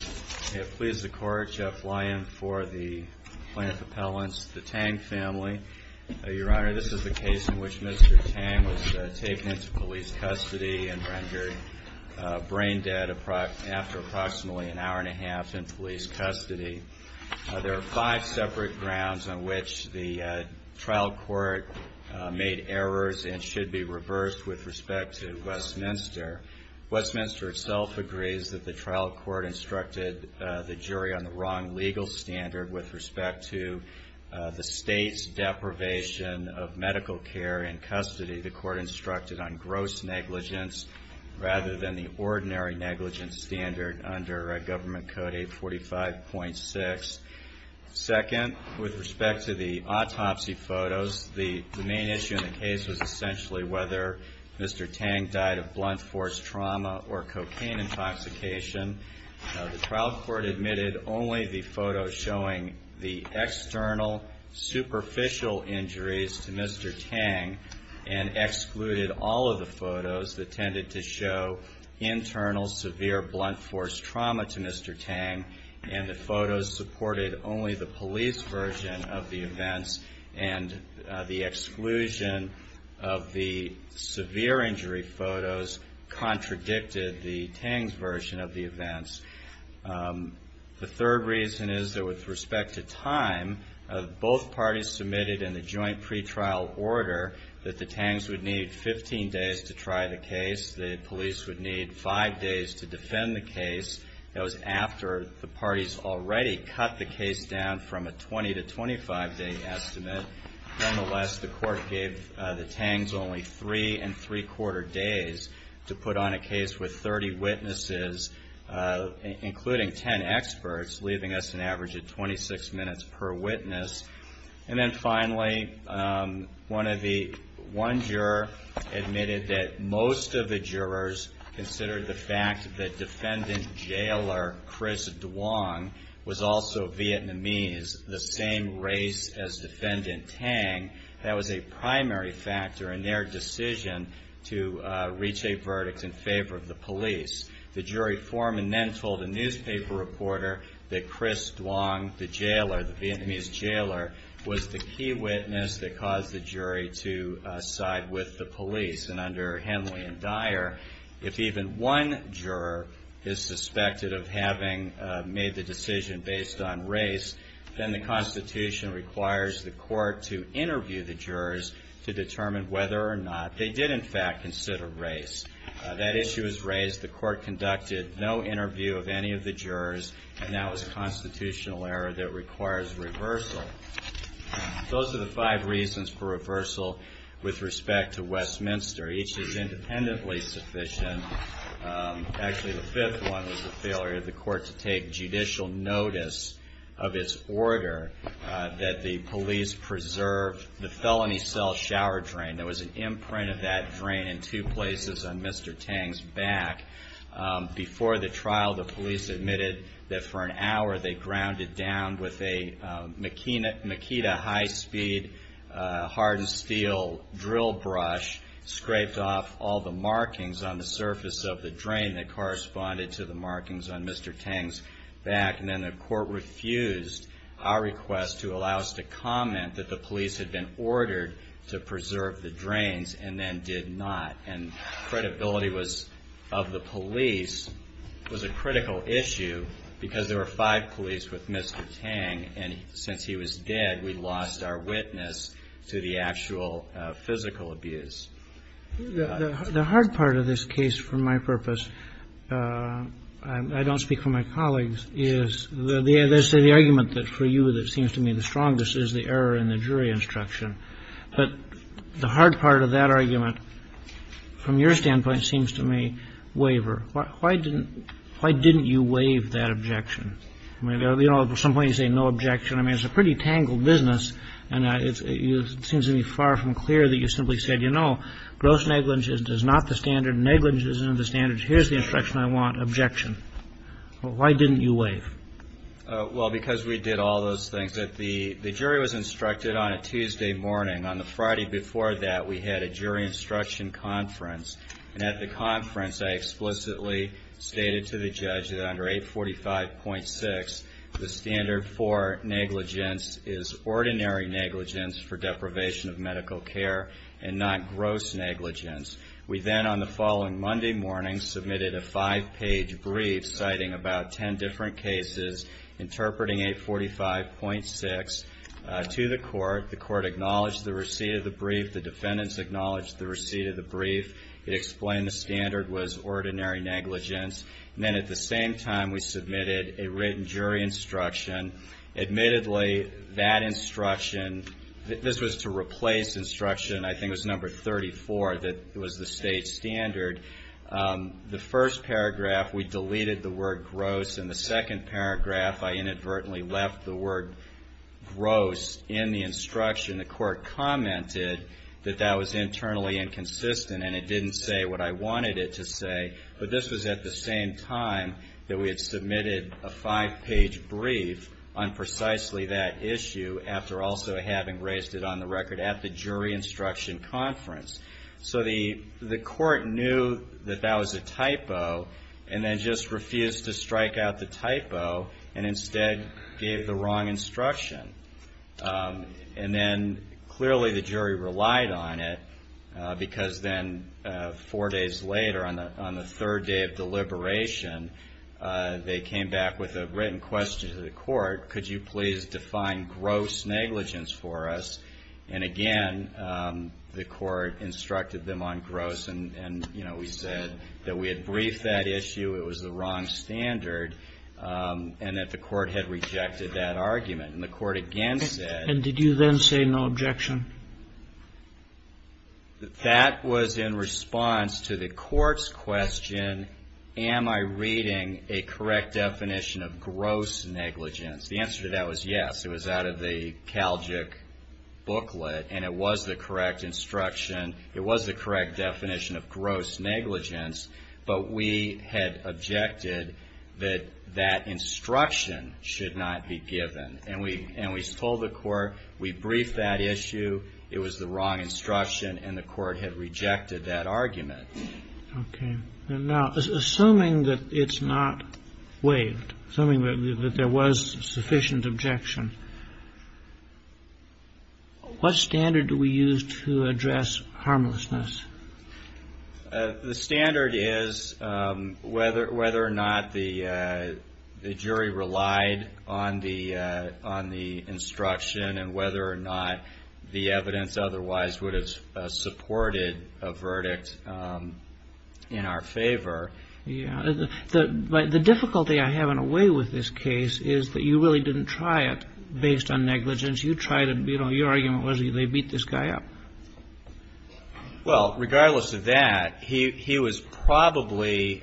I have pleased the court to fly in for the plaintiff appellants, the Tang family. Your Honor, this is the case in which Mr. Tang was taken into police custody and rendered brain dead after approximately an hour and a half in police custody. There are five separate grounds on which the trial court made errors and should be reversed with respect to Westminster. Westminster itself agrees that the trial court instructed the jury on the wrong legal standard with respect to the state's deprivation of medical care in custody. The court instructed on gross negligence rather than the ordinary negligence standard under Government Code 845.6. Second, with respect to the autopsy photos, the main issue in the case was essentially whether Mr. Tang died of blunt force trauma or cocaine intoxication. The trial court admitted only the photos showing the external superficial injuries to Mr. Tang and excluded all of the photos that tended to show internal severe blunt force trauma to Mr. Tang. And the photos supported only the police version of the events and the exclusion of the severe injury photos contradicted the Tangs version of the events. The third reason is that with respect to time, both parties submitted in the joint pretrial order that the Tangs would need 15 days to try the case. The police would need five days to defend the case. That was after the parties already cut the case down from a 20- to 25-day estimate. Nonetheless, the court gave the Tangs only three and three-quarter days to put on a case with 30 witnesses, including 10 experts, leaving us an average of 26 minutes per witness. And then finally, one juror admitted that most of the jurors considered the fact that defendant jailer Chris Duong was also Vietnamese, the same race as defendant Tang. That was a primary factor in their decision to reach a verdict in favor of the police. The jury foreman then told a newspaper reporter that Chris Duong, the jailer, the Vietnamese jailer, was the key witness that caused the jury to side with the police. And under Henley and Dyer, if even one juror is suspected of having made the decision based on race, then the Constitution requires the court to interview the jurors to determine whether or not they did in fact consider race. That issue is raised. The court conducted no interview of any of the jurors, and that was a constitutional error that requires reversal. Those are the five reasons for reversal with respect to Westminster. Each is independently sufficient. Actually, the fifth one was the failure of the court to take judicial notice of its order that the police preserve the felony cell shower drain. There was an imprint of that drain in two places on Mr. Tang's back. Before the trial, the police admitted that for an hour they grounded down with a Makita high-speed hardened steel drill brush, scraped off all the markings on the surface of the drain that corresponded to the markings on Mr. Tang's back. And then the court refused our request to allow us to comment that the police had been ordered to preserve the drains and then did not. And credibility was, of the police, was a critical issue because there were five police with Mr. Tang. And since he was dead, we lost our witness to the actual physical abuse. The hard part of this case, for my purpose, I don't speak for my colleagues, is the argument that for you that seems to me the strongest is the error in the jury instruction. But the hard part of that argument, from your standpoint, seems to me waver. Why didn't you waive that objection? You know, at some point you say no objection. I mean, it's a pretty tangled business. It seems to me far from clear that you simply said, you know, gross negligence is not the standard. Negligence isn't the standard. Here's the instruction I want, objection. Why didn't you waive? Well, because we did all those things. The jury was instructed on a Tuesday morning. On the Friday before that, we had a jury instruction conference. And at the conference, I explicitly stated to the judge that under 845.6, the standard for negligence is ordinary negligence for deprivation of medical care and not gross negligence. We then, on the following Monday morning, submitted a five-page brief citing about ten different cases, interpreting 845.6 to the court. The court acknowledged the receipt of the brief. The defendants acknowledged the receipt of the brief. It explained the standard was ordinary negligence. And then at the same time, we submitted a written jury instruction. Admittedly, that instruction, this was to replace instruction, I think it was number 34, that was the state standard. The first paragraph, we deleted the word gross. In the second paragraph, I inadvertently left the word gross in the instruction. The court commented that that was internally inconsistent and it didn't say what I wanted it to say. But this was at the same time that we had submitted a five-page brief on precisely that issue, after also having raised it on the record at the jury instruction conference. So the court knew that that was a typo and then just refused to strike out the typo and instead gave the wrong instruction. And then clearly the jury relied on it because then four days later, on the third day of deliberation, they came back with a written question to the court, could you please define gross negligence for us? And again, the court instructed them on gross and, you know, we said that we had briefed that issue, it was the wrong standard, and that the court had rejected that argument. And the court again said. And did you then say no objection? That was in response to the court's question, am I reading a correct definition of gross negligence? The answer to that was yes. It was out of the Calgic booklet and it was the correct instruction. It was the correct definition of gross negligence, but we had objected that that instruction should not be given. And we told the court, we briefed that issue, it was the wrong instruction, and the court had rejected that argument. Okay. Now, assuming that it's not waived, assuming that there was sufficient objection, what standard do we use to address harmlessness? The standard is whether or not the jury relied on the instruction and whether or not the evidence otherwise would have supported a verdict in our favor. Yeah. The difficulty I have in a way with this case is that you really didn't try it based on negligence. You tried it, you know, your argument was they beat this guy up. Well, regardless of that, he was probably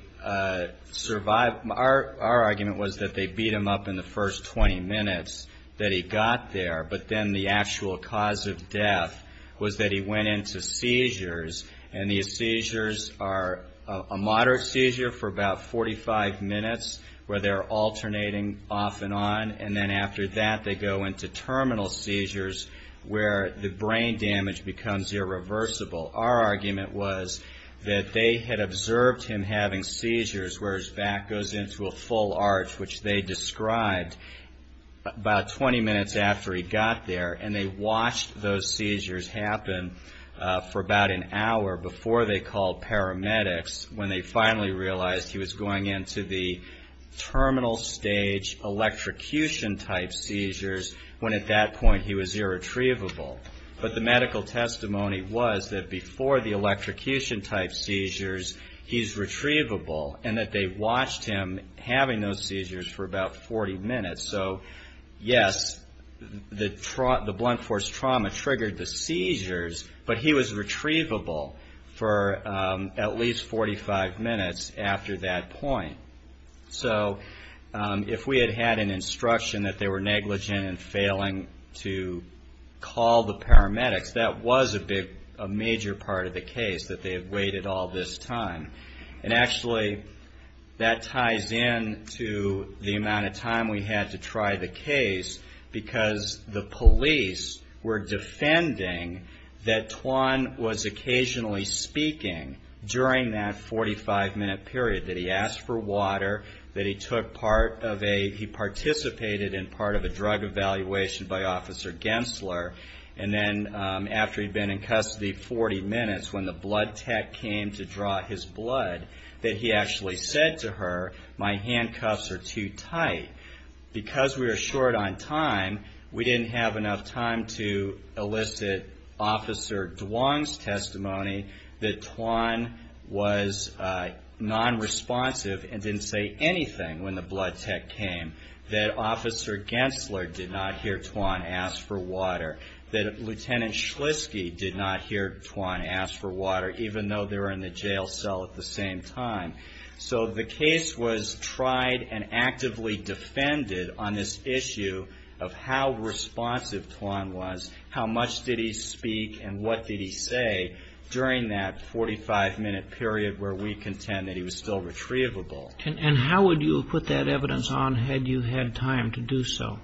survived. Our argument was that they beat him up in the first 20 minutes, that he got there, but then the actual cause of death was that he went into seizures, and these seizures are a moderate seizure for about 45 minutes where they're alternating off and on, and then after that they go into terminal seizures where the brain damage becomes irreversible. Our argument was that they had observed him having seizures where his back goes into a full arch, which they described about 20 minutes after he got there, and they watched those seizures happen for about an hour before they called paramedics, when they finally realized he was going into the terminal stage electrocution-type seizures, when at that point he was irretrievable. But the medical testimony was that before the electrocution-type seizures, he's retrievable, and that they watched him having those seizures for about 40 minutes. So, yes, the blunt force trauma triggered the seizures, but he was retrievable for at least 45 minutes after that point. So, if we had had an instruction that they were negligent in failing to call the paramedics, that was a major part of the case, that they had waited all this time. And actually, that ties in to the amount of time we had to try the case, because the police were defending that Twan was occasionally speaking during that 45-minute period, that he asked for water, that he took part of a, he participated in part of a drug evaluation by Officer Gensler, and then after he'd been in custody 40 minutes, when the blood tech came to draw his blood, that he actually said to her, my handcuffs are too tight. Because we were short on time, we didn't have enough time to elicit Officer Dwan's testimony that Twan was nonresponsive and didn't say anything when the blood tech came, that Officer Gensler did not hear Twan ask for water, that Lieutenant Schliske did not hear Twan ask for water, even though they were in the jail cell at the same time. So the case was tried and actively defended on this issue of how responsive Twan was, how much did he speak and what did he say during that 45-minute period where we contend that he was still retrievable. And how would you have put that evidence on had you had time to do so?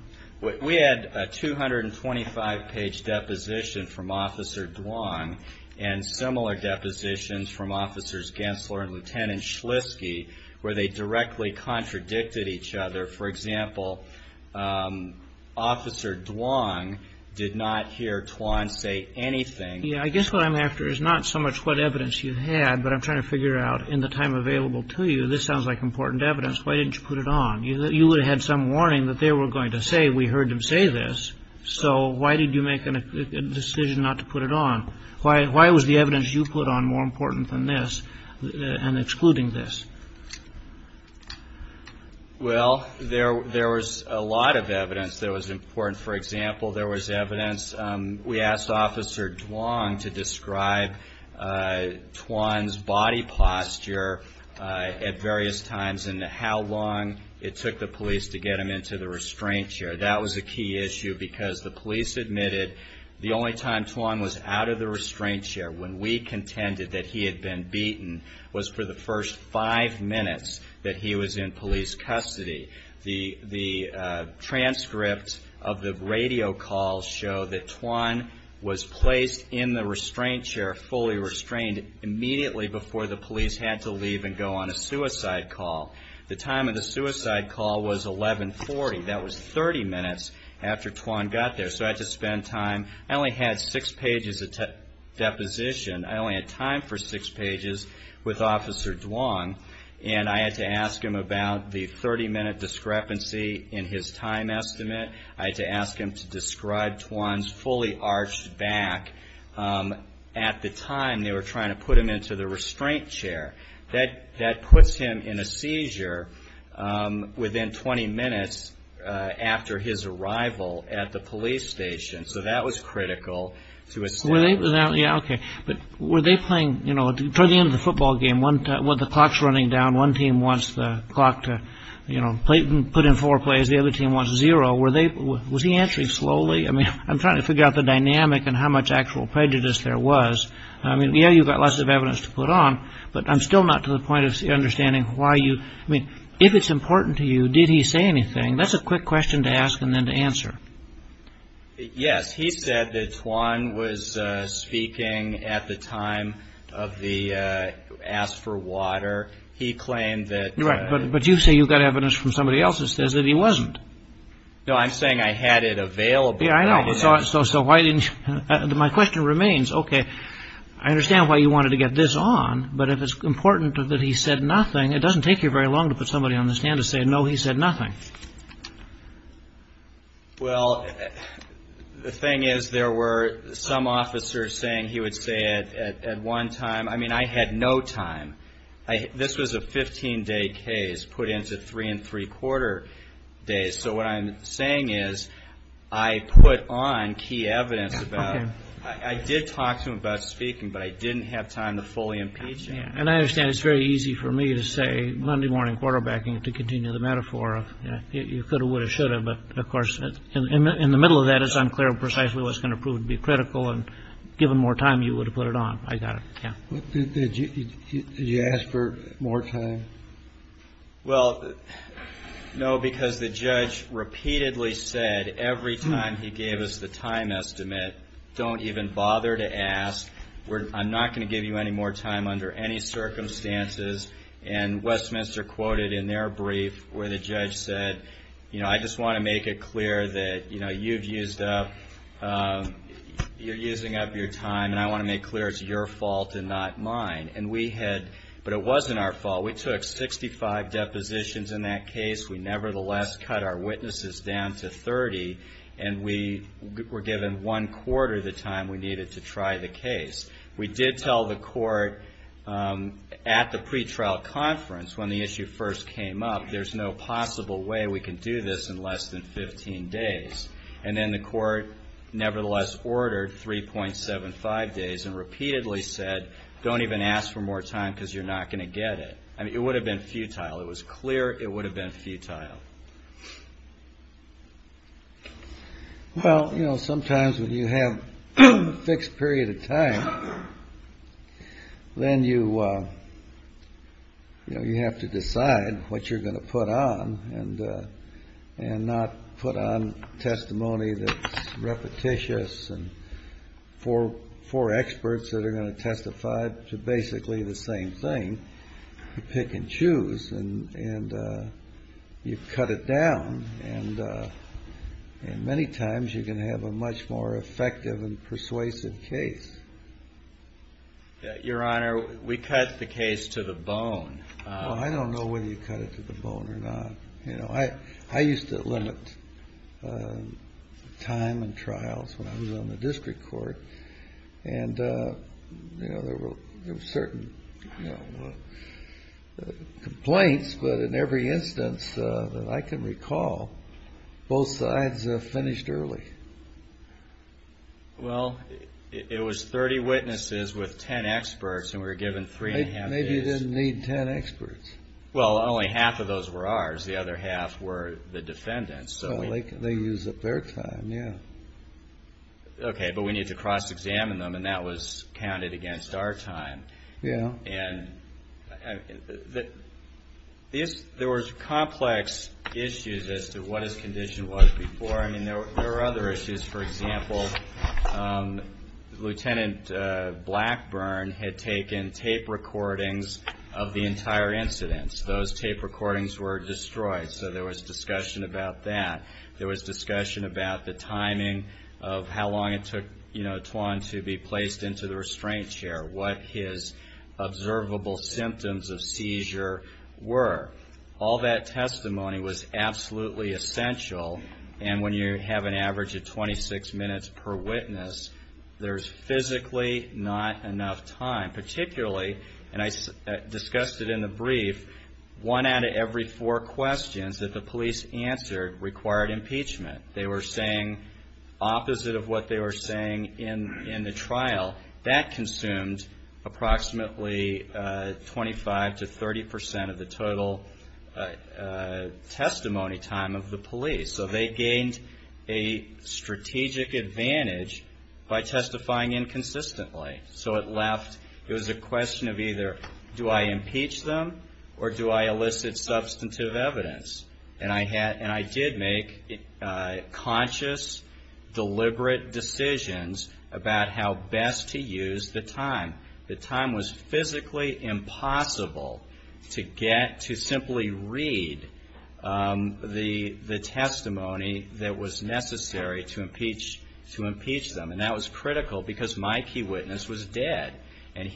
We had a 225-page deposition from Officer Dwan, and similar depositions from Officers Gensler and Lieutenant Schliske, where they directly contradicted each other. For example, Officer Dwan did not hear Twan say anything. I guess what I'm after is not so much what evidence you had, but I'm trying to figure out, in the time available to you, this sounds like important evidence. Why didn't you put it on? You would have had some warning that they were going to say, we heard him say this, so why did you make a decision not to put it on? Why was the evidence you put on more important than this and excluding this? Well, there was a lot of evidence that was important. For example, there was evidence we asked Officer Dwan to describe Twan's body posture at various times and how long it took the police to get him into the restraint chair. That was a key issue because the police admitted the only time Twan was out of the restraint chair when we contended that he had been beaten was for the first five minutes that he was in police custody. The transcripts of the radio calls show that Twan was placed in the restraint chair, fully restrained, immediately before the police had to leave and go on a suicide call. The time of the suicide call was 1140. That was 30 minutes after Twan got there, so I had to spend time. I only had six pages of deposition. I only had time for six pages with Officer Dwan, and I had to ask him about the 30-minute discrepancy in his time estimate. I had to ask him to describe Twan's fully arched back at the time they were trying to put him into the restraint chair. That puts him in a seizure within 20 minutes after his arrival at the police station, so that was critical. Toward the end of the football game, the clock is running down. One team wants the clock to put in four plays. The other team wants zero. Was he answering slowly? I'm trying to figure out the dynamic and how much actual prejudice there was. You've got lots of evidence to put on, but I'm still not to the point of understanding why you... If it's important to you, did he say anything? That's a quick question to ask and then to answer. Yes, he said that Twan was speaking at the time of the ask for water. He claimed that... But you say you've got evidence from somebody else that says that he wasn't. No, I'm saying I had it available. My question remains, okay, I understand why you wanted to get this on, but if it's important that he said nothing, it doesn't take you very long to put somebody on the stand to say, no, he said nothing. Well, the thing is, there were some officers saying he would say it at one time. I mean, I had no time. This was a 15-day case put into three and three-quarter days. So what I'm saying is I put on key evidence about... I did talk to him about speaking, but I didn't have time to fully impeach him. And I understand it's very easy for me to say, Monday morning quarterbacking, to continue the metaphor of you could have, would have, should have, but, of course, in the middle of that, it's unclear precisely what's going to prove to be critical, and given more time, you would have put it on. Did you ask for more time? Well, no, because the judge repeatedly said every time he gave us the time estimate, don't even bother to ask. I'm not going to give you any more time under any circumstances. And Westminster quoted in their brief where the judge said, you know, I just want to make it clear that, you know, you've used up... you're using up your time, and I want to make clear it's your fault and not mine. But it wasn't our fault. We took 65 depositions in that case. We nevertheless cut our witnesses down to 30, and we were given one-quarter the time we needed to try the case. We did tell the court at the pretrial conference when the issue first came up, there's no possible way we can do this in less than 15 days. And then the court nevertheless ordered 3.75 days and repeatedly said, don't even ask for more time because you're not going to get it. I mean, it would have been futile. It was clear it would have been futile. Well, you know, sometimes when you have a fixed period of time, then you, you know, you have to decide what you're going to put on and not put on testimony that's repetitious. And for experts that are going to testify to basically the same thing, you pick and choose and you cut it down. And many times you can have a much more effective and persuasive case. Your Honor, we cut the case to the bone. Well, I don't know whether you cut it to the bone or not. You know, I used to limit time and trials when I was on the district court. And, you know, there were certain complaints, but in every instance that I can recall, both sides finished early. Well, it was 30 witnesses with 10 experts and we were given three and a half days. Maybe you didn't need 10 experts. Well, only half of those were ours. The other half were the defendants. Well, they used up their time, yeah. Okay, but we need to cross-examine them, and that was counted against our time. Yeah. There were complex issues as to what his condition was before. I mean, there were other issues, for example, Lieutenant Blackburn had taken tape recordings of the entire incident. Those tape recordings were destroyed, so there was discussion about that. There was discussion about the timing of how long it took, you know, Twan to be placed into the restraint chair, what his observable symptoms of seizure were. All that testimony was absolutely essential, and when you have an average of 26 minutes per witness, there's physically not enough time, particularly, and I discussed it in the brief, one out of every four questions that the police answered required impeachment. They were saying opposite of what they were saying in the trial. That consumed approximately 25 to 30 percent of the total testimony time of the police, so they gained a strategic advantage by testifying inconsistently. So it left, it was a question of either do I impeach them or do I elicit substantive evidence, and I did make conscious, deliberate decisions about how best to use the time. The time was physically impossible to get, to simply read the testimony that was necessary to impeach them, and that was critical because my key witness was dead, and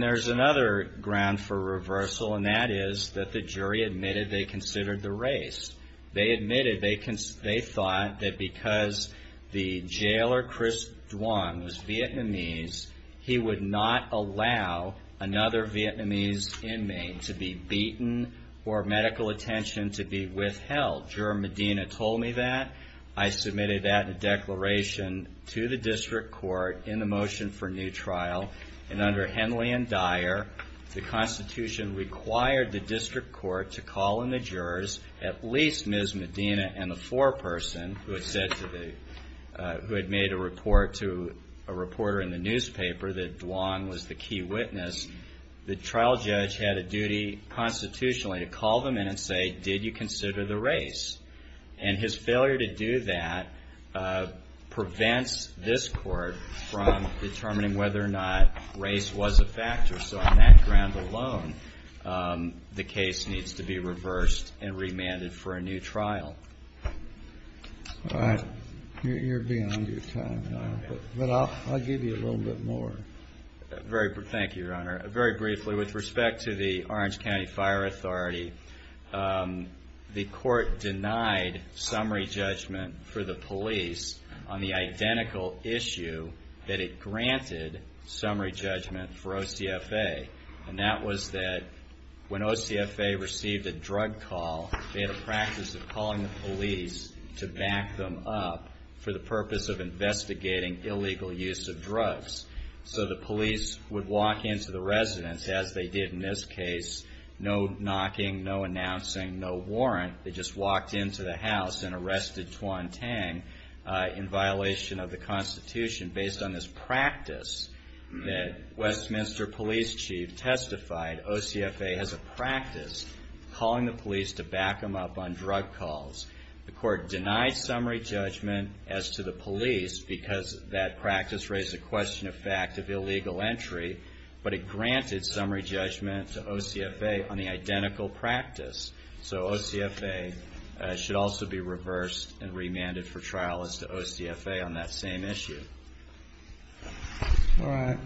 there's another ground for reversal, and that is that the jury admitted they considered the race. They admitted, they thought that because the jailer, Chris Twan, was Vietnamese, he would not allow another Vietnamese inmate to be beaten or medical attention to be withheld. Juror Medina told me that. I submitted that in a declaration to the district court in the motion for new trial, and under Henley and Dyer, the Constitution required the district court to call in the jurors, at least Ms. Medina and the foreperson who had said to the, who had made a report to a reporter in the newspaper that Twan was the key witness. The trial judge had a duty constitutionally to call them in and say, did you consider the race? And his failure to do that prevents this court from determining whether or not race was a factor. So on that ground alone, the case needs to be reversed and remanded for a new trial. All right. You're beyond your time now, but I'll give you a little bit more. Thank you, Your Honor. Very briefly, with respect to the Orange County Fire Authority, the court denied summary judgment for the police on the identical issue that it granted summary judgment for OCFA, and that was that when OCFA received a drug call, they had a practice of calling the police to back them up for the purpose of investigating illegal use of drugs. So the police would walk into the residence, as they did in this case, no knocking, no announcing, no warrant. They just walked into the house and arrested Twan Tang in violation of the Constitution. Based on this practice that Westminster Police Chief testified, OCFA has a practice of calling the police to back them up on drug calls. The court denied summary judgment as to the police because that practice raised a question of fact of illegal entry, but it granted summary judgment to OCFA on the identical practice. So OCFA should also be reversed and remanded for trial as to OCFA on that same issue. All right.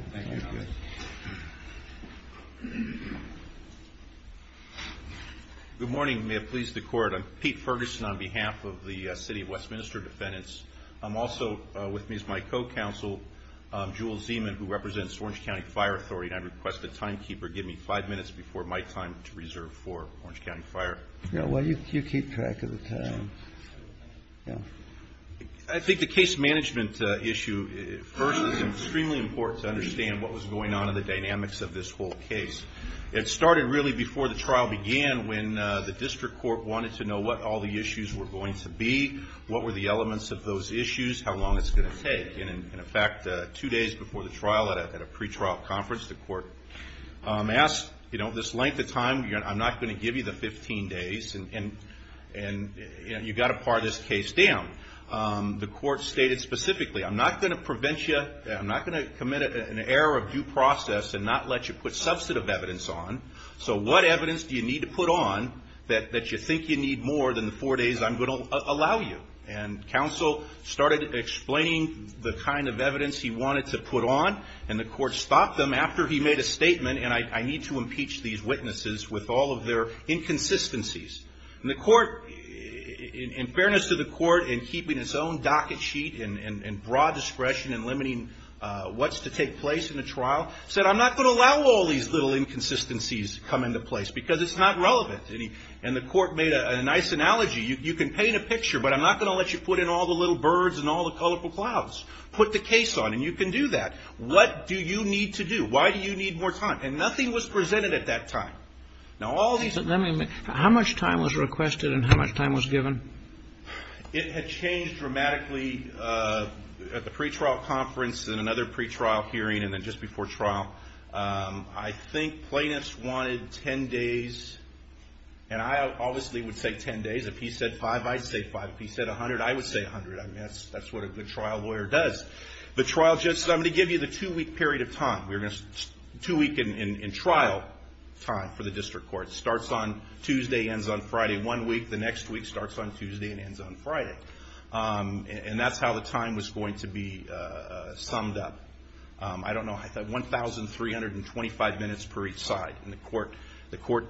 Good morning. May it please the Court. I'm Pete Ferguson on behalf of the City of Westminster Defendants. I'm also with me is my co-counsel, Jewel Zeman, who represents Orange County Fire Authority, and I request the timekeeper give me five minutes before my time to reserve for Orange County Fire. Well, you keep track of the time. I think the case management issue first is extremely important to understand what was going on in the dynamics of this whole case. It started really before the trial began when the district court wanted to know what all the issues were going to be, what were the elements of those issues, how long it's going to take. And in fact, two days before the trial at a pretrial conference, the court asked, this length of time, I'm not going to give you the 15 days, and you've got to par this case down. The court stated specifically, I'm not going to prevent you, I'm not going to commit an error of due process and not let you put substantive evidence on, so what evidence do you need to put on that you think you need more than the four days I'm going to allow you? And counsel started explaining the kind of evidence he wanted to put on, and the court stopped him after he made a statement, and I need to impeach these witnesses with all of their inconsistencies. And the court, in fairness to the court, in keeping its own docket sheet and broad discretion in limiting what's to take place in the trial, said, I'm not going to allow all these little inconsistencies to come into place because it's not relevant. And the court made a nice analogy, you can paint a picture, but I'm not going to let you put in all the little birds and all the colorful clouds. Put the case on, and you can do that. What do you need to do? Why do you need more time? And nothing was presented at that time. How much time was requested and how much time was given? It had changed dramatically at the pretrial conference and another pretrial hearing and then just before trial. I think plaintiffs wanted 10 days, and I obviously would say 10 days. If he said five, I'd say five. If he said 100, I would say 100. That's what a good trial lawyer does. The trial judge says, I'm going to give you the two week period of time. Two week in trial time for the district court. Starts on Tuesday, ends on Friday. One week, the next week starts on Tuesday and ends on Friday. And that's how the time was going to be summed up. I don't know, I thought 1,325 minutes per each side in the court. The court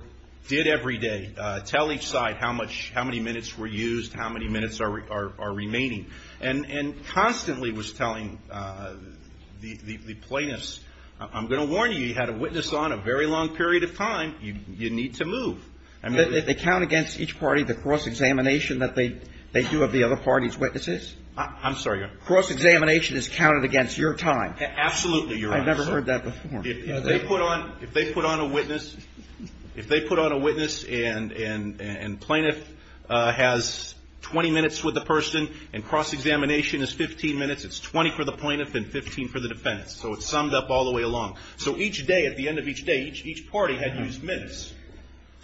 did every day tell each side how many minutes were used, how many minutes are remaining. And constantly was telling the plaintiffs, I'm going to warn you, you had a witness on a very long period of time. You need to move. They count against each party the cross-examination that they do of the other party's witnesses? I'm sorry, Your Honor. Cross-examination is counted against your time. Absolutely, Your Honor. I've never heard that before. If they put on a witness and plaintiff has 20 minutes with the person and cross-examination is 15 minutes, it's 20 for the plaintiff and 15 for the defendant. So it's summed up all the way along. So each day, at the end of each day, each party had used minutes.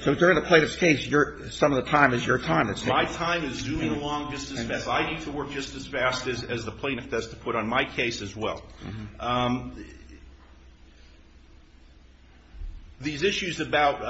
So during the plaintiff's case, some of the time is your time. My time is zooming along just as fast. I need to work just as fast as the plaintiff does to put on my case as well. These issues about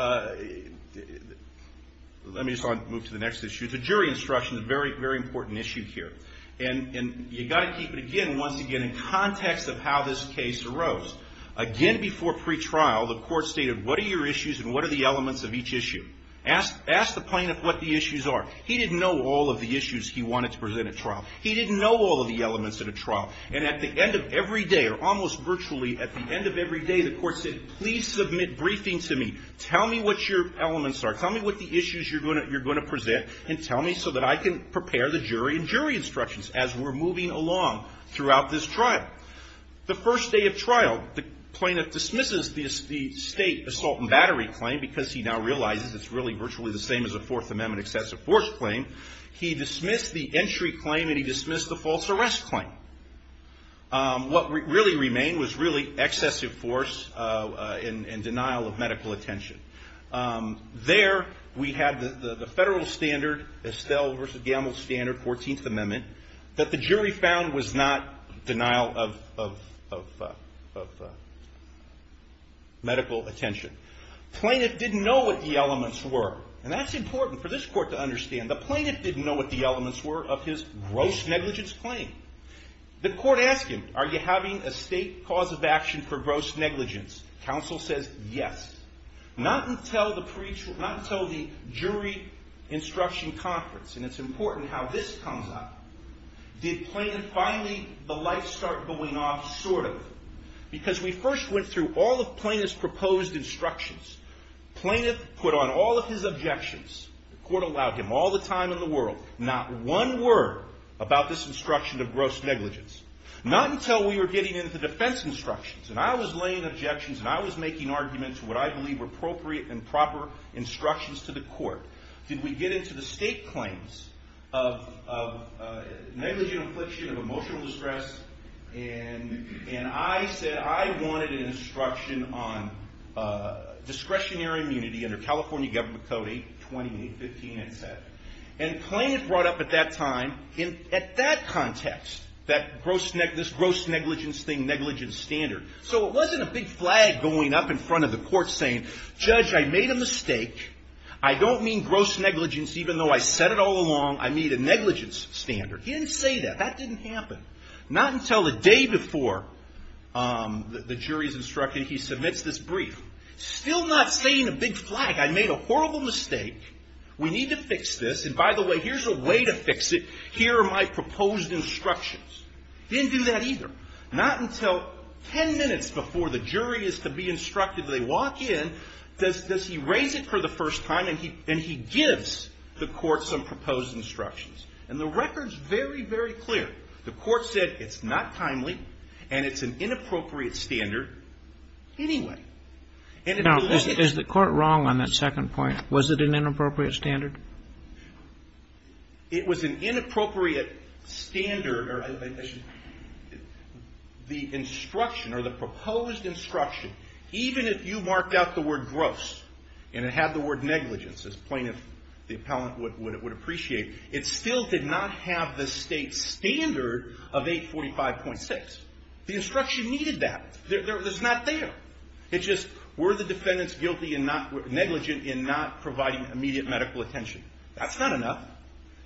let me just move to the next issue. The jury instruction is a very important issue here. And you've got to keep it again, once again, in context of how this case arose. Again, before pretrial, the court stated, what are your issues and what are the elements of each issue? Ask the plaintiff what the issues are. He didn't know all of the issues he wanted to present at trial. He didn't know all of the elements at a trial. And at the end of every day, or almost virtually at the end of every day, the court said, please submit briefing to me. Tell me what your elements are. Tell me what the issues you're going to present and tell me so that I can prepare the jury and jury instructions as we're moving along throughout this trial. The first day of trial, the plaintiff dismisses the state assault and battery claim because he now realizes it's really virtually the same as a Fourth Amendment excessive force claim. He dismissed the entry claim and he dismissed the false arrest claim. What really remained was really excessive force and denial of medical attention. There we had the federal standard, Estelle v. Gamble standard, 14th Amendment, that the jury found was not denial of medical attention. Plaintiff didn't know what the elements were. And that's important for this court to understand. The plaintiff didn't know what the elements were of his gross negligence claim. The court asked him, are you having a state cause of action for gross negligence? Counsel says yes. Not until the jury instruction conference, and it's important how this comes up, did plaintiff finally, the lights start going off, sort of. Because we first went through all of plaintiff's proposed instructions. Plaintiff put on all of his objections, the court allowed him all the time in the world, not one word about this instruction of gross negligence. Not until we were getting into defense instructions and I was laying objections and I was making arguments to what I believe were appropriate and proper instructions to the court, did we get into the state claims of negligent infliction of emotional distress and I said I wanted an instruction on discretionary immunity under California Government Code 82815 and set. And plaintiff brought up at that time, at that context, this gross negligence thing, negligence standard. So it wasn't a big flag going up in front of the court saying, judge, I made a mistake, I don't mean gross negligence even though I said it all along, I mean a negligence standard. He didn't say that. That didn't happen. Not until the day before the jury's instruction he submits this brief. Still not saying a big flag, I made a horrible mistake, we need to fix this, and by the way, here's a way to fix it, here are my proposed instructions. Didn't do that either. Not until ten minutes before the jury is to be instructed they walk in, does he raise it for the first time and he gives the court some proposed instructions. And the record's very, very clear. The court said it's not timely and it's an inappropriate standard anyway. Now, is the court wrong on that second point? Was it an inappropriate standard? It was an inappropriate standard, or the instruction, or the proposed instruction, even if you marked out the word gross, and it had the word negligence, as plaintiff, the appellant would appreciate, it still did not have the state standard of 845.6. The instruction needed that. It's not there. It's just, were the defendants negligent in not providing immediate medical attention? That's not enough.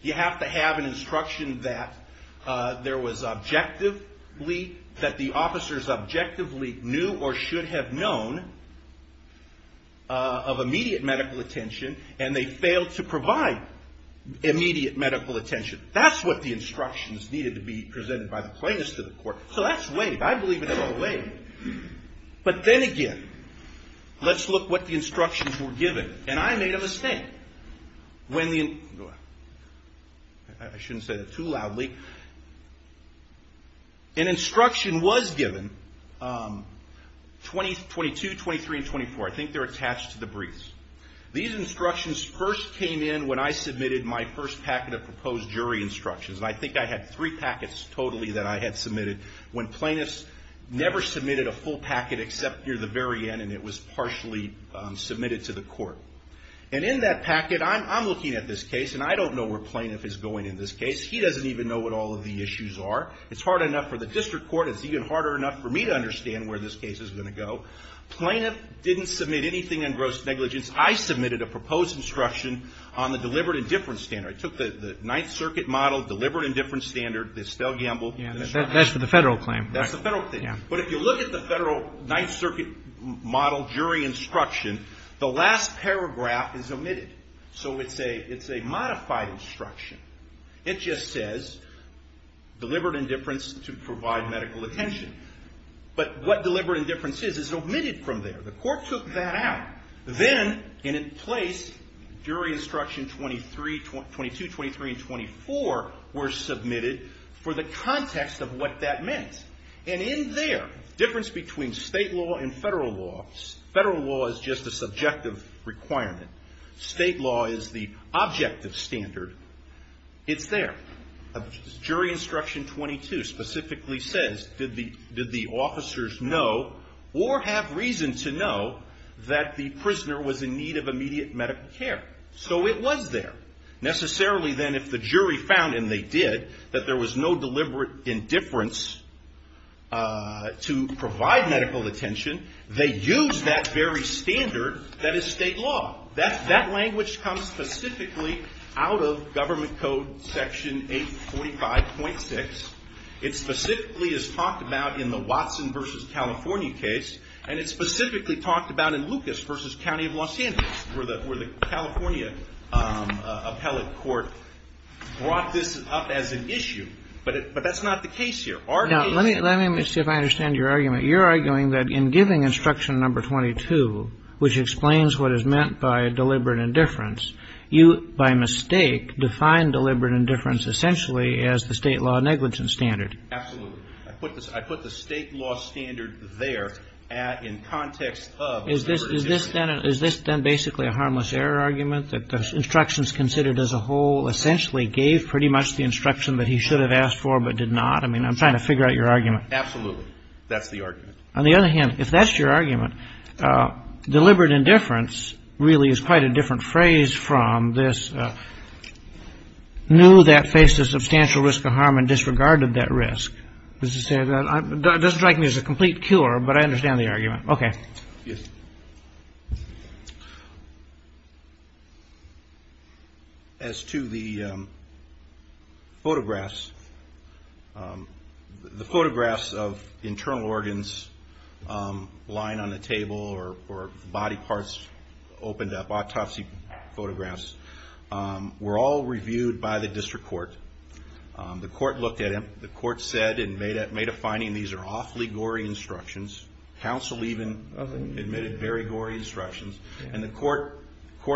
You have to have an instruction that there was objectively, that the officers objectively knew or should have known of immediate medical attention and they failed to provide immediate medical attention. That's what the instructions needed to be presented by the plaintiffs to the court. So that's waived. I believe it's all waived. But then again, let's look what the instructions were given. And I made a mistake. I shouldn't say that too loudly. An instruction was given, 22, 23, and 24. I think they're attached to the briefs. These instructions first came in when I submitted my first packet of proposed jury instructions. I think I had three packets totally that I had submitted when plaintiffs never submitted a full packet except near the very end, and it was partially submitted to the court. And in that packet, I'm looking at this case, and I don't know where plaintiff is going in this case. He doesn't even know what all of the issues are. It's hard enough for the district court. It's even harder enough for me to understand where this case is going to go. Plaintiff didn't submit anything on gross negligence. I submitted a proposed instruction on the deliberate indifference standard. I took the Ninth Circuit model, deliberate indifference standard. They still gambled. That's for the federal claim. That's the federal claim. But if you look at the federal Ninth Circuit model jury instruction, the last paragraph is omitted. So it's a modified instruction. It just says, deliberate indifference to provide medical attention. But what deliberate indifference is, is omitted from there. The court took that out. Then, and in place, jury instruction 22, 23, and 24 were submitted for the context of what that meant. And in there, difference between state law and federal law, federal law is just a subjective requirement. State law is the objective standard. It's there. Jury instruction 22 specifically says, did the officers know or have reason to know that the prisoner was in need of medical attention? And they did. That there was no deliberate indifference to provide medical attention. They used that very standard that is state law. That language comes specifically out of Government Code Section 845.6. It specifically is talked about in the Watson v. California case. And it's specifically talked about in Lucas v. County of Los Angeles, where the California appellate court brought this up as an issue. But that's not the case here. Our case... Let me see if I understand your argument. You're arguing that in giving instruction number 22, which explains what is meant by deliberate indifference, you, by mistake, define deliberate indifference essentially as the state law negligence standard. Absolutely. I put the state law standard there in context of... Is this then basically a harmless error argument, that the instructions considered as a whole essentially gave pretty much the instruction that he should have asked for but did not? I mean, I'm trying to figure out your argument. Absolutely. That's the argument. On the other hand, if that's your argument, deliberate indifference really is quite a different phrase from this, knew that was a complete cure, but I understand the argument. Okay. As to the photographs, the photographs of internal organs lying on the table or body parts opened up, autopsy photographs, were all reviewed by the district court. The court looked at them. The court said and made a finding, these are awfully gory instructions. Counsel even admitted very gory instructions. And the court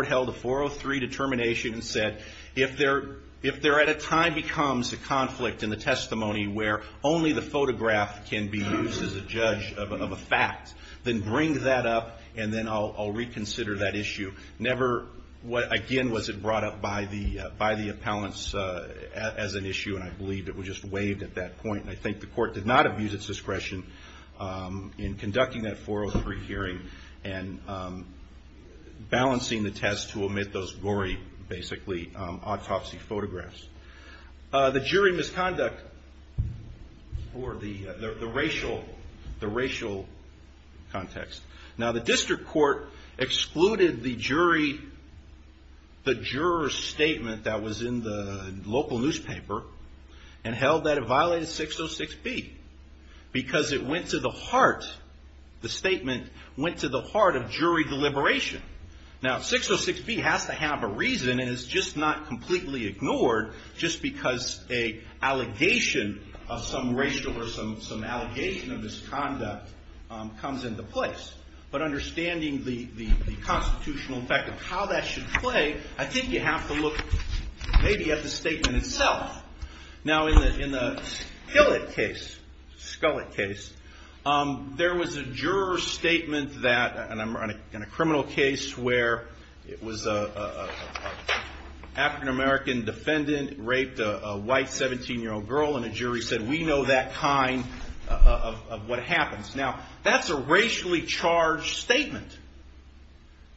held a 403 determination and said, if there at a time becomes a conflict in the testimony where only the photograph can be used as a judge of a fact, then bring that up and then I'll reconsider that issue. Never again was it brought up by the appellants as an issue and I believe it was just waived at that point. And I think the court did not abuse its discretion in conducting that 403 hearing and balancing the test to omit those gory basically autopsy photographs. The jury misconduct or the racial context. Now the district court excluded the jury the juror's statement that was in the local newspaper and held that it violated 606B because it went to the heart the statement went to the heart of jury deliberation. Now 606B has to have a reason and it's just not completely ignored just because a racial or some allegation of misconduct comes into place. But understanding the constitutional effect of how that should play, I think you have to look maybe at the statement itself. Now in the skillet case, there was a juror's statement that in a criminal case where it was an African-American defendant raped a white 17-year-old girl and a jury said we know that kind of what happens. Now that's a racially charged statement.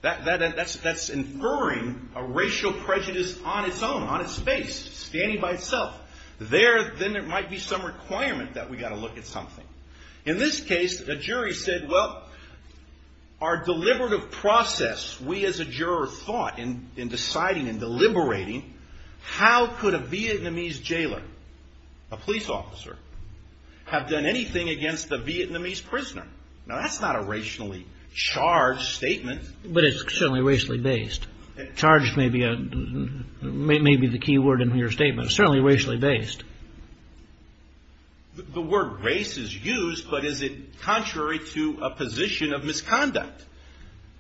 That's inferring a racial prejudice on its own, on its face, standing by itself. There then there might be some requirement that we got to look at something. In this case the jury said well our deliberative process we as a juror thought in deciding and deliberating how could a Vietnamese jailer, a police officer, have done anything against a Vietnamese prisoner. Now that's not a racially charged statement. But it's certainly racially based. Charged may be the key word in your statement. It's certainly racially based. The defendant was raped.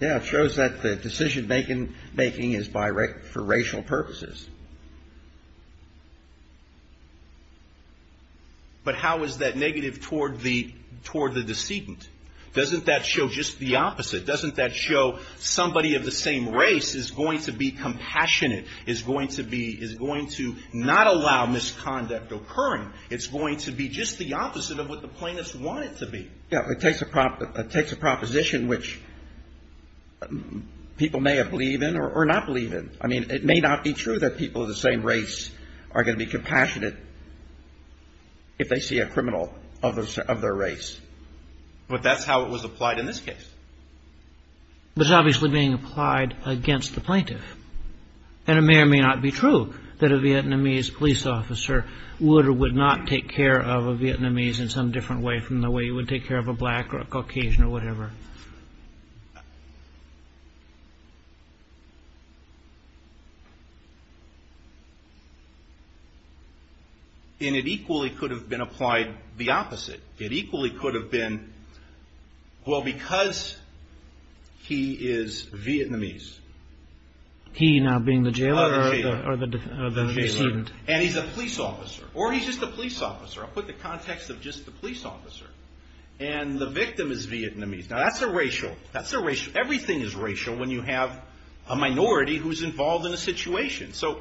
Yeah. It shows that the decision making is for racial purposes. But how is that negative toward the decedent? Doesn't that show just the opposite? Doesn't that show somebody of the same race is going to be compassionate, is going to be, is going to not allow misconduct occurring? It's going to be just the opposite of what the plaintiffs want it to be. Yeah. It takes a proposition which people may believe in or not believe in. I mean it may not be true that people of the same race are going to be compassionate if they see a criminal of their race. But that's how it was applied in this case. But it's obviously being applied against the plaintiff. And it may or may not be true that a Vietnamese police officer would or would not take care of a Vietnamese in some different way from the way you would take care of a black or a Caucasian or whatever. And it equally could have been applied the opposite. It equally could have been well because he is Vietnamese. He now being the jailer or the decedent. And he's a police officer. Or he's just a police officer. I'll put the context of just the police officer. And the victim is Vietnamese. Now that's a racial, that's a racial, everything is racial when you have a minority who's involved in a situation. So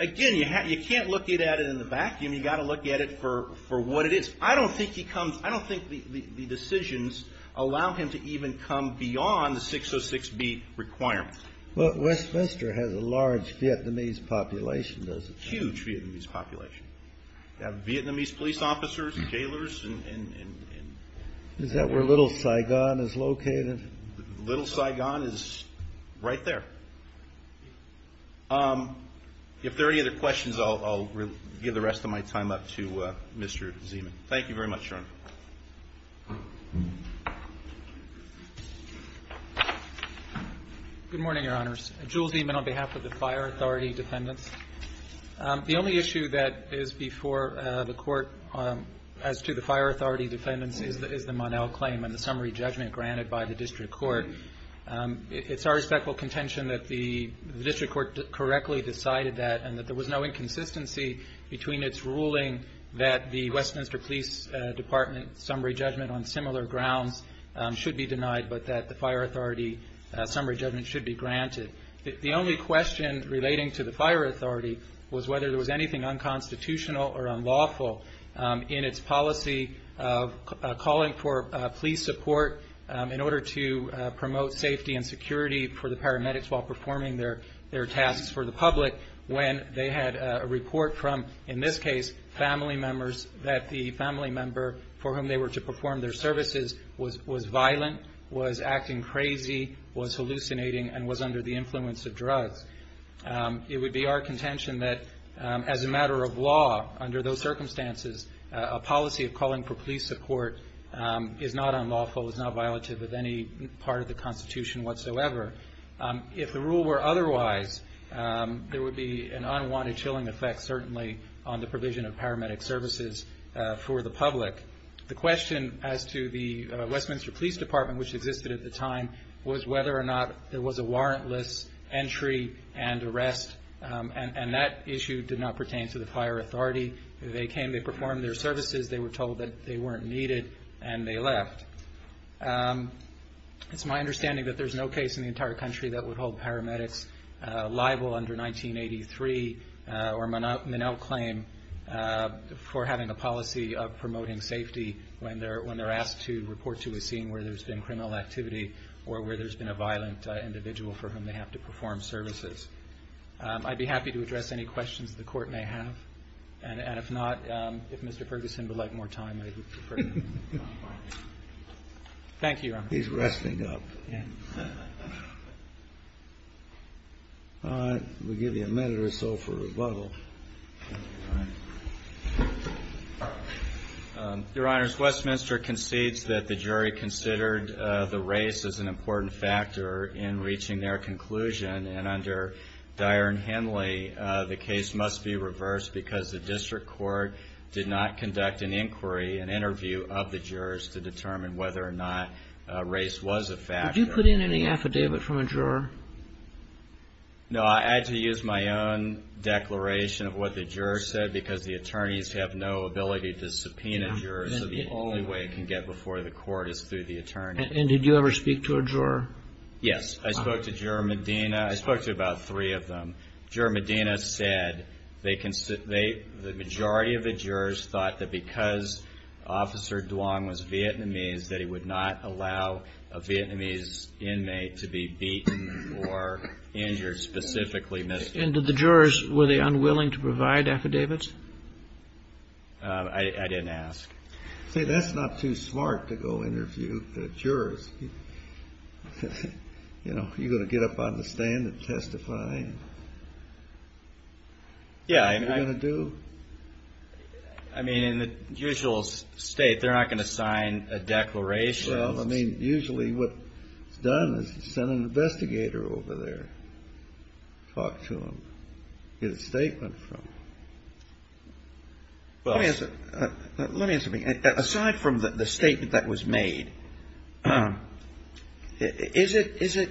again you can't look at it in the vacuum. You've got to look at it for what it is. I don't think he comes, I don't think the decisions allow him to even come beyond the 606B requirement. But Westminster has a large Vietnamese population does it not? Huge Vietnamese population. You have Vietnamese police officers, jailers and Is that where Little Saigon is located? Little Saigon is right there. If there are any other questions I'll give the rest of my time up to Mr. Zeman. Thank you very much Your Honor. Good morning Your Honors. Jewel Zeman on behalf of the Fire Authority Defendants. The only issue that is before the court as to the Fire Authority judgment granted by the District Court. It's our respectful contention that the District Court correctly decided that and that there was no inconsistency between its ruling that the Westminster Police Department summary judgment on similar grounds should be denied but that the Fire Authority summary judgment should be granted. The only question relating to the Fire Authority was whether there was anything unconstitutional or in order to promote safety and security for the paramedics while performing their tasks for the public when they had a report from in this case family members that the family member for whom they were to perform their services was violent, was acting crazy, was hallucinating and was under the influence of drugs. It would be our contention that as a matter of law under those circumstances a policy of calling for police support is not unlawful, is not violative of any part of the Constitution whatsoever. If the rule were otherwise there would be an unwanted chilling effect certainly on the provision of paramedic services for the public. The question as to the Westminster Police Department which existed at the time was whether or not there was a warrantless entry and that issue did not pertain to the Fire Authority. They came, they performed their services, they were told that they weren't needed and they left. It's my understanding that there's no case in the entire country that would hold paramedics liable under 1983 or Monell claim for having a policy of promoting safety when they're asked to report to a scene where there's been criminal activity or where there's been a violent individual for whom they have to perform services. I'd be happy to address any questions the Court may have and if not, if Mr. Ferguson would like more time I would prefer to move on. Thank you, Your Honor. He's resting up. All right. We'll give you a minute or so for rebuttal. Your Honor, Westminster concedes that the jury considered the race as an important factor in reaching their conclusion and under Dyer and Henley the case must be reversed because the district court did not conduct an inquiry, an interview of the jurors to determine whether or not race was a factor. Did you put in any affidavit from a juror? No, I had to use my own declaration of what the juror said because the attorneys have no ability to subpoena jurors so the only way it can get before the court is through the attorney. And did you ever speak to a juror? Yes, I spoke to Juror Medina. I spoke to about three of them. Juror Medina said the majority of the jurors thought that because Officer Duong was Vietnamese that he would not allow a Vietnamese inmate to be beaten or injured specifically. And did the jurors, were they unwilling to provide affidavits? I didn't ask. See, that's not too smart to go interview the jurors. You know, are you going to get up out of the stand and testify? Yeah. What are you going to do? I mean, in the usual state, they're not going to sign a declaration. Well, I mean, usually what's done is send an investigator over there, talk to them, get a statement from them. Let me ask you something. Aside from the statement that was made, is it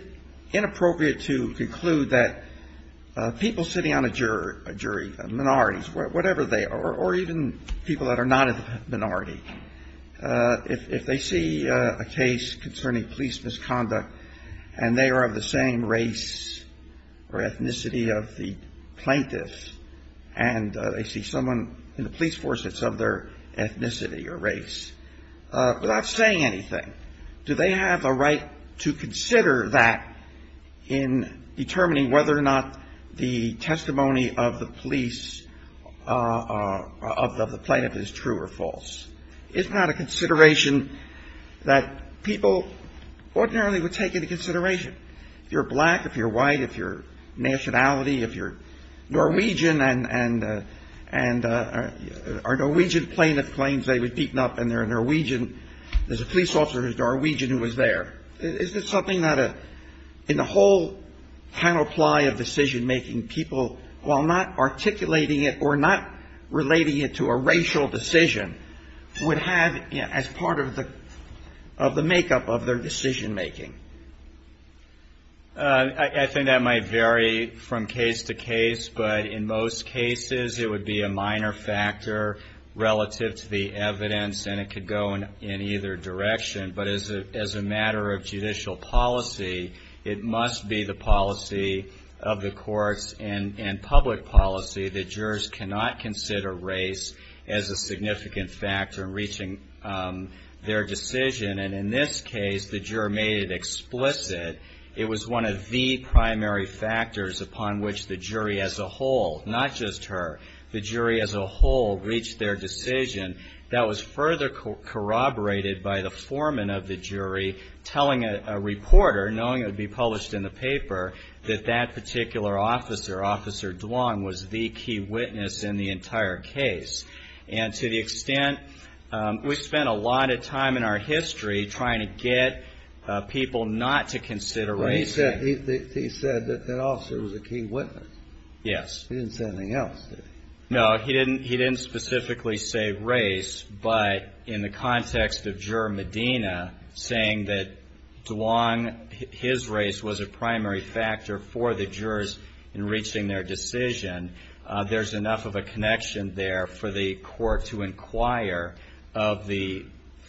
inappropriate to conclude that people sitting on a jury, minorities, whatever they are, or even people that are not a minority, if they see a case concerning police misconduct and they are of the same race or ethnicity of the plaintiffs and they see someone in the police force that's of their ethnicity or race, without saying anything, do they have a right to consider that in determining whether or not the testimony of the police, of the plaintiff, is true or false? It's not a consideration that people ordinarily would take into consideration. If you're black, if you're white, if you're nationality, if you're Norwegian and are Norwegian plaintiff claims they were beaten up and they're Norwegian, there's a police officer who's Norwegian who was there. Is this something that in the whole panoply of decision-making people, while not articulating it or not relating it to a racial decision, would have as part of the makeup of their decision-making? I think that might vary from case to case, but in most cases it would be a minor factor relative to the evidence and it could go in either direction. But as a matter of judicial policy, it must be the policy of the courts and public policy that jurors cannot consider race as a significant factor in reaching their decision. And in this case, the juror made it a whole, not just her. The jury as a whole reached their decision. That was further corroborated by the foreman of the jury telling a reporter, knowing it would be published in the paper, that that particular officer, Officer Duong, was the key witness in the entire case. And to the extent we spent a lot of time in our history trying to get people not to see race as a key witness, he didn't say anything else, did he? No, he didn't specifically say race, but in the context of Juror Medina saying that Duong, his race was a primary factor for the jurors in reaching their decision, there's enough of a connection there for the court to inquire if the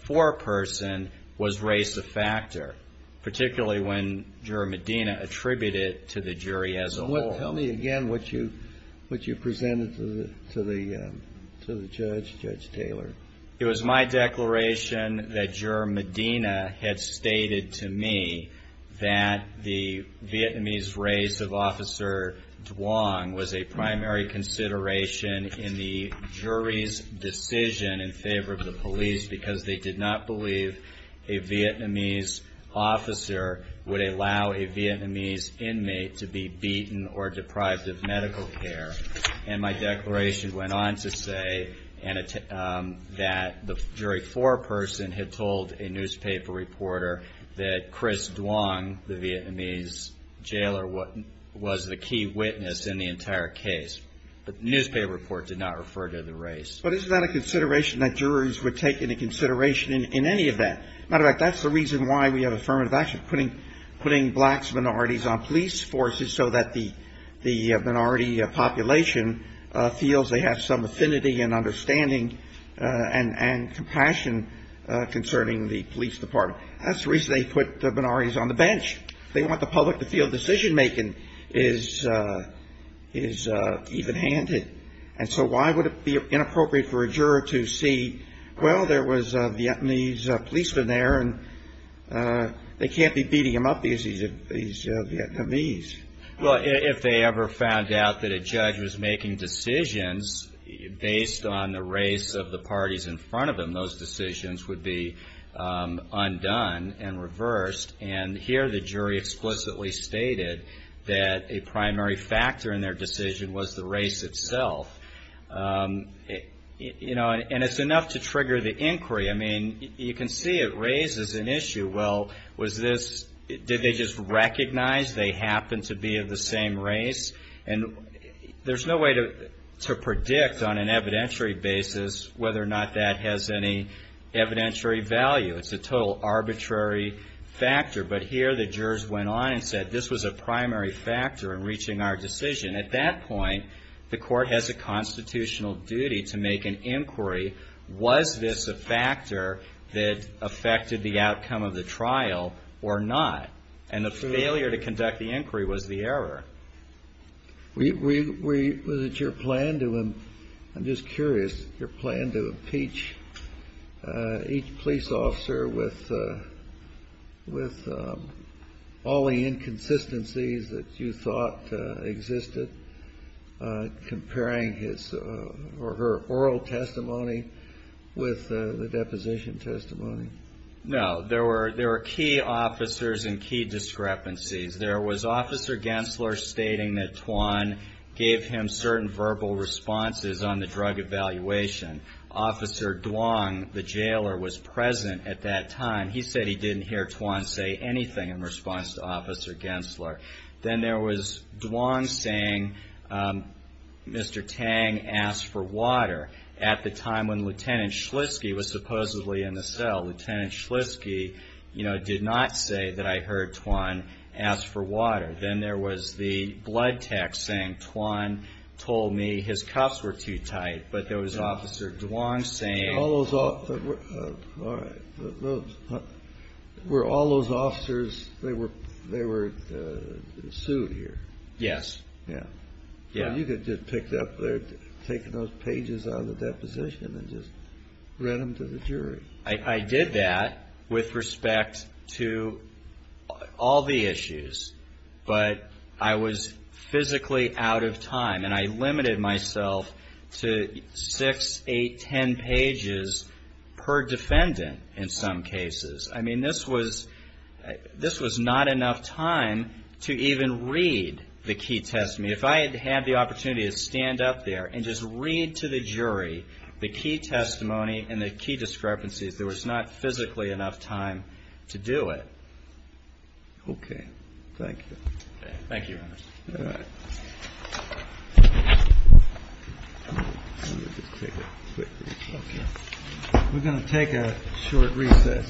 foreperson was race a factor, particularly when Juror Medina attributed it to the jury as a whole. Tell me again what you presented to the judge, Judge Taylor. It was my declaration that Juror Medina had stated to me that the Vietnamese race of Officer Duong was a primary consideration in the jury's decision in favor of the police because they did not believe a Vietnamese officer would allow a Vietnamese inmate to be beaten or deprived of medical care. And my declaration went on to say that the jury foreperson had told a newspaper reporter that Chris Duong, the Vietnamese jailer, was the key witness in the entire case, but the newspaper report did not refer to the race. But is that a consideration that jurors would take into consideration in any event? Matter of fact, that's the reason why we have affirmative action, putting black minorities on police forces so that the minority population feels they have some affinity and understanding and compassion concerning the police department. That's the reason they put the minorities on the bench. They want the public to feel decision-making is even-handed. And so why would it be inappropriate for a juror to see, well, there was a Vietnamese policeman there and they can't be beating him up because he's Vietnamese? Well, if they ever found out that a judge was making decisions based on the race of the parties in front of them, those decisions would be undone and reversed. And here the jury explicitly stated that a primary factor in their decision was the race itself. You know, and it's enough to trigger the inquiry. I mean, you can see it raises an issue. Well, was this, did they just recognize they happened to be of the same race? And there's no way to predict on an evidentiary basis whether or not that has any evidentiary value. It's a total arbitrary factor. But here the jurors went on and said this was a primary factor in reaching our decision. At that point, the court has a constitutional duty to make an inquiry, was this a factor that affected the outcome of the trial or not? And the failure to conduct the inquiry was the error. Was it your plan to, I'm just curious, your plan to impeach each police officer with all the inconsistencies that you thought existed, comparing his or her oral testimony with the deposition testimony? No, there were key officers and key discrepancies. There was Officer Gensler stating that Twan gave him certain verbal responses on the drug evaluation. Officer Duong, the jailer, was present at that time. He said he didn't hear Twan say anything in response to Officer Gensler. Then there was Duong saying Mr. Tang asked for water at the time when Lieutenant Schliske was supposedly in the cell. Lieutenant Schliske did not say that I heard Twan ask for water. Then there was the blood text saying Twan told me his cuffs were too tight, but there was Officer Duong saying... Were all those officers, they were sued here? Yes. I did that with respect to all the issues, but I was physically out of time and I limited myself to six, eight, ten pages per defendant in some cases. This was not enough time to even read the key testimony. If I had had the opportunity to stand up there and just read to the jury the key testimony and the key discrepancies, there was not physically enough time to do it. We're going to take a short recess.......................................................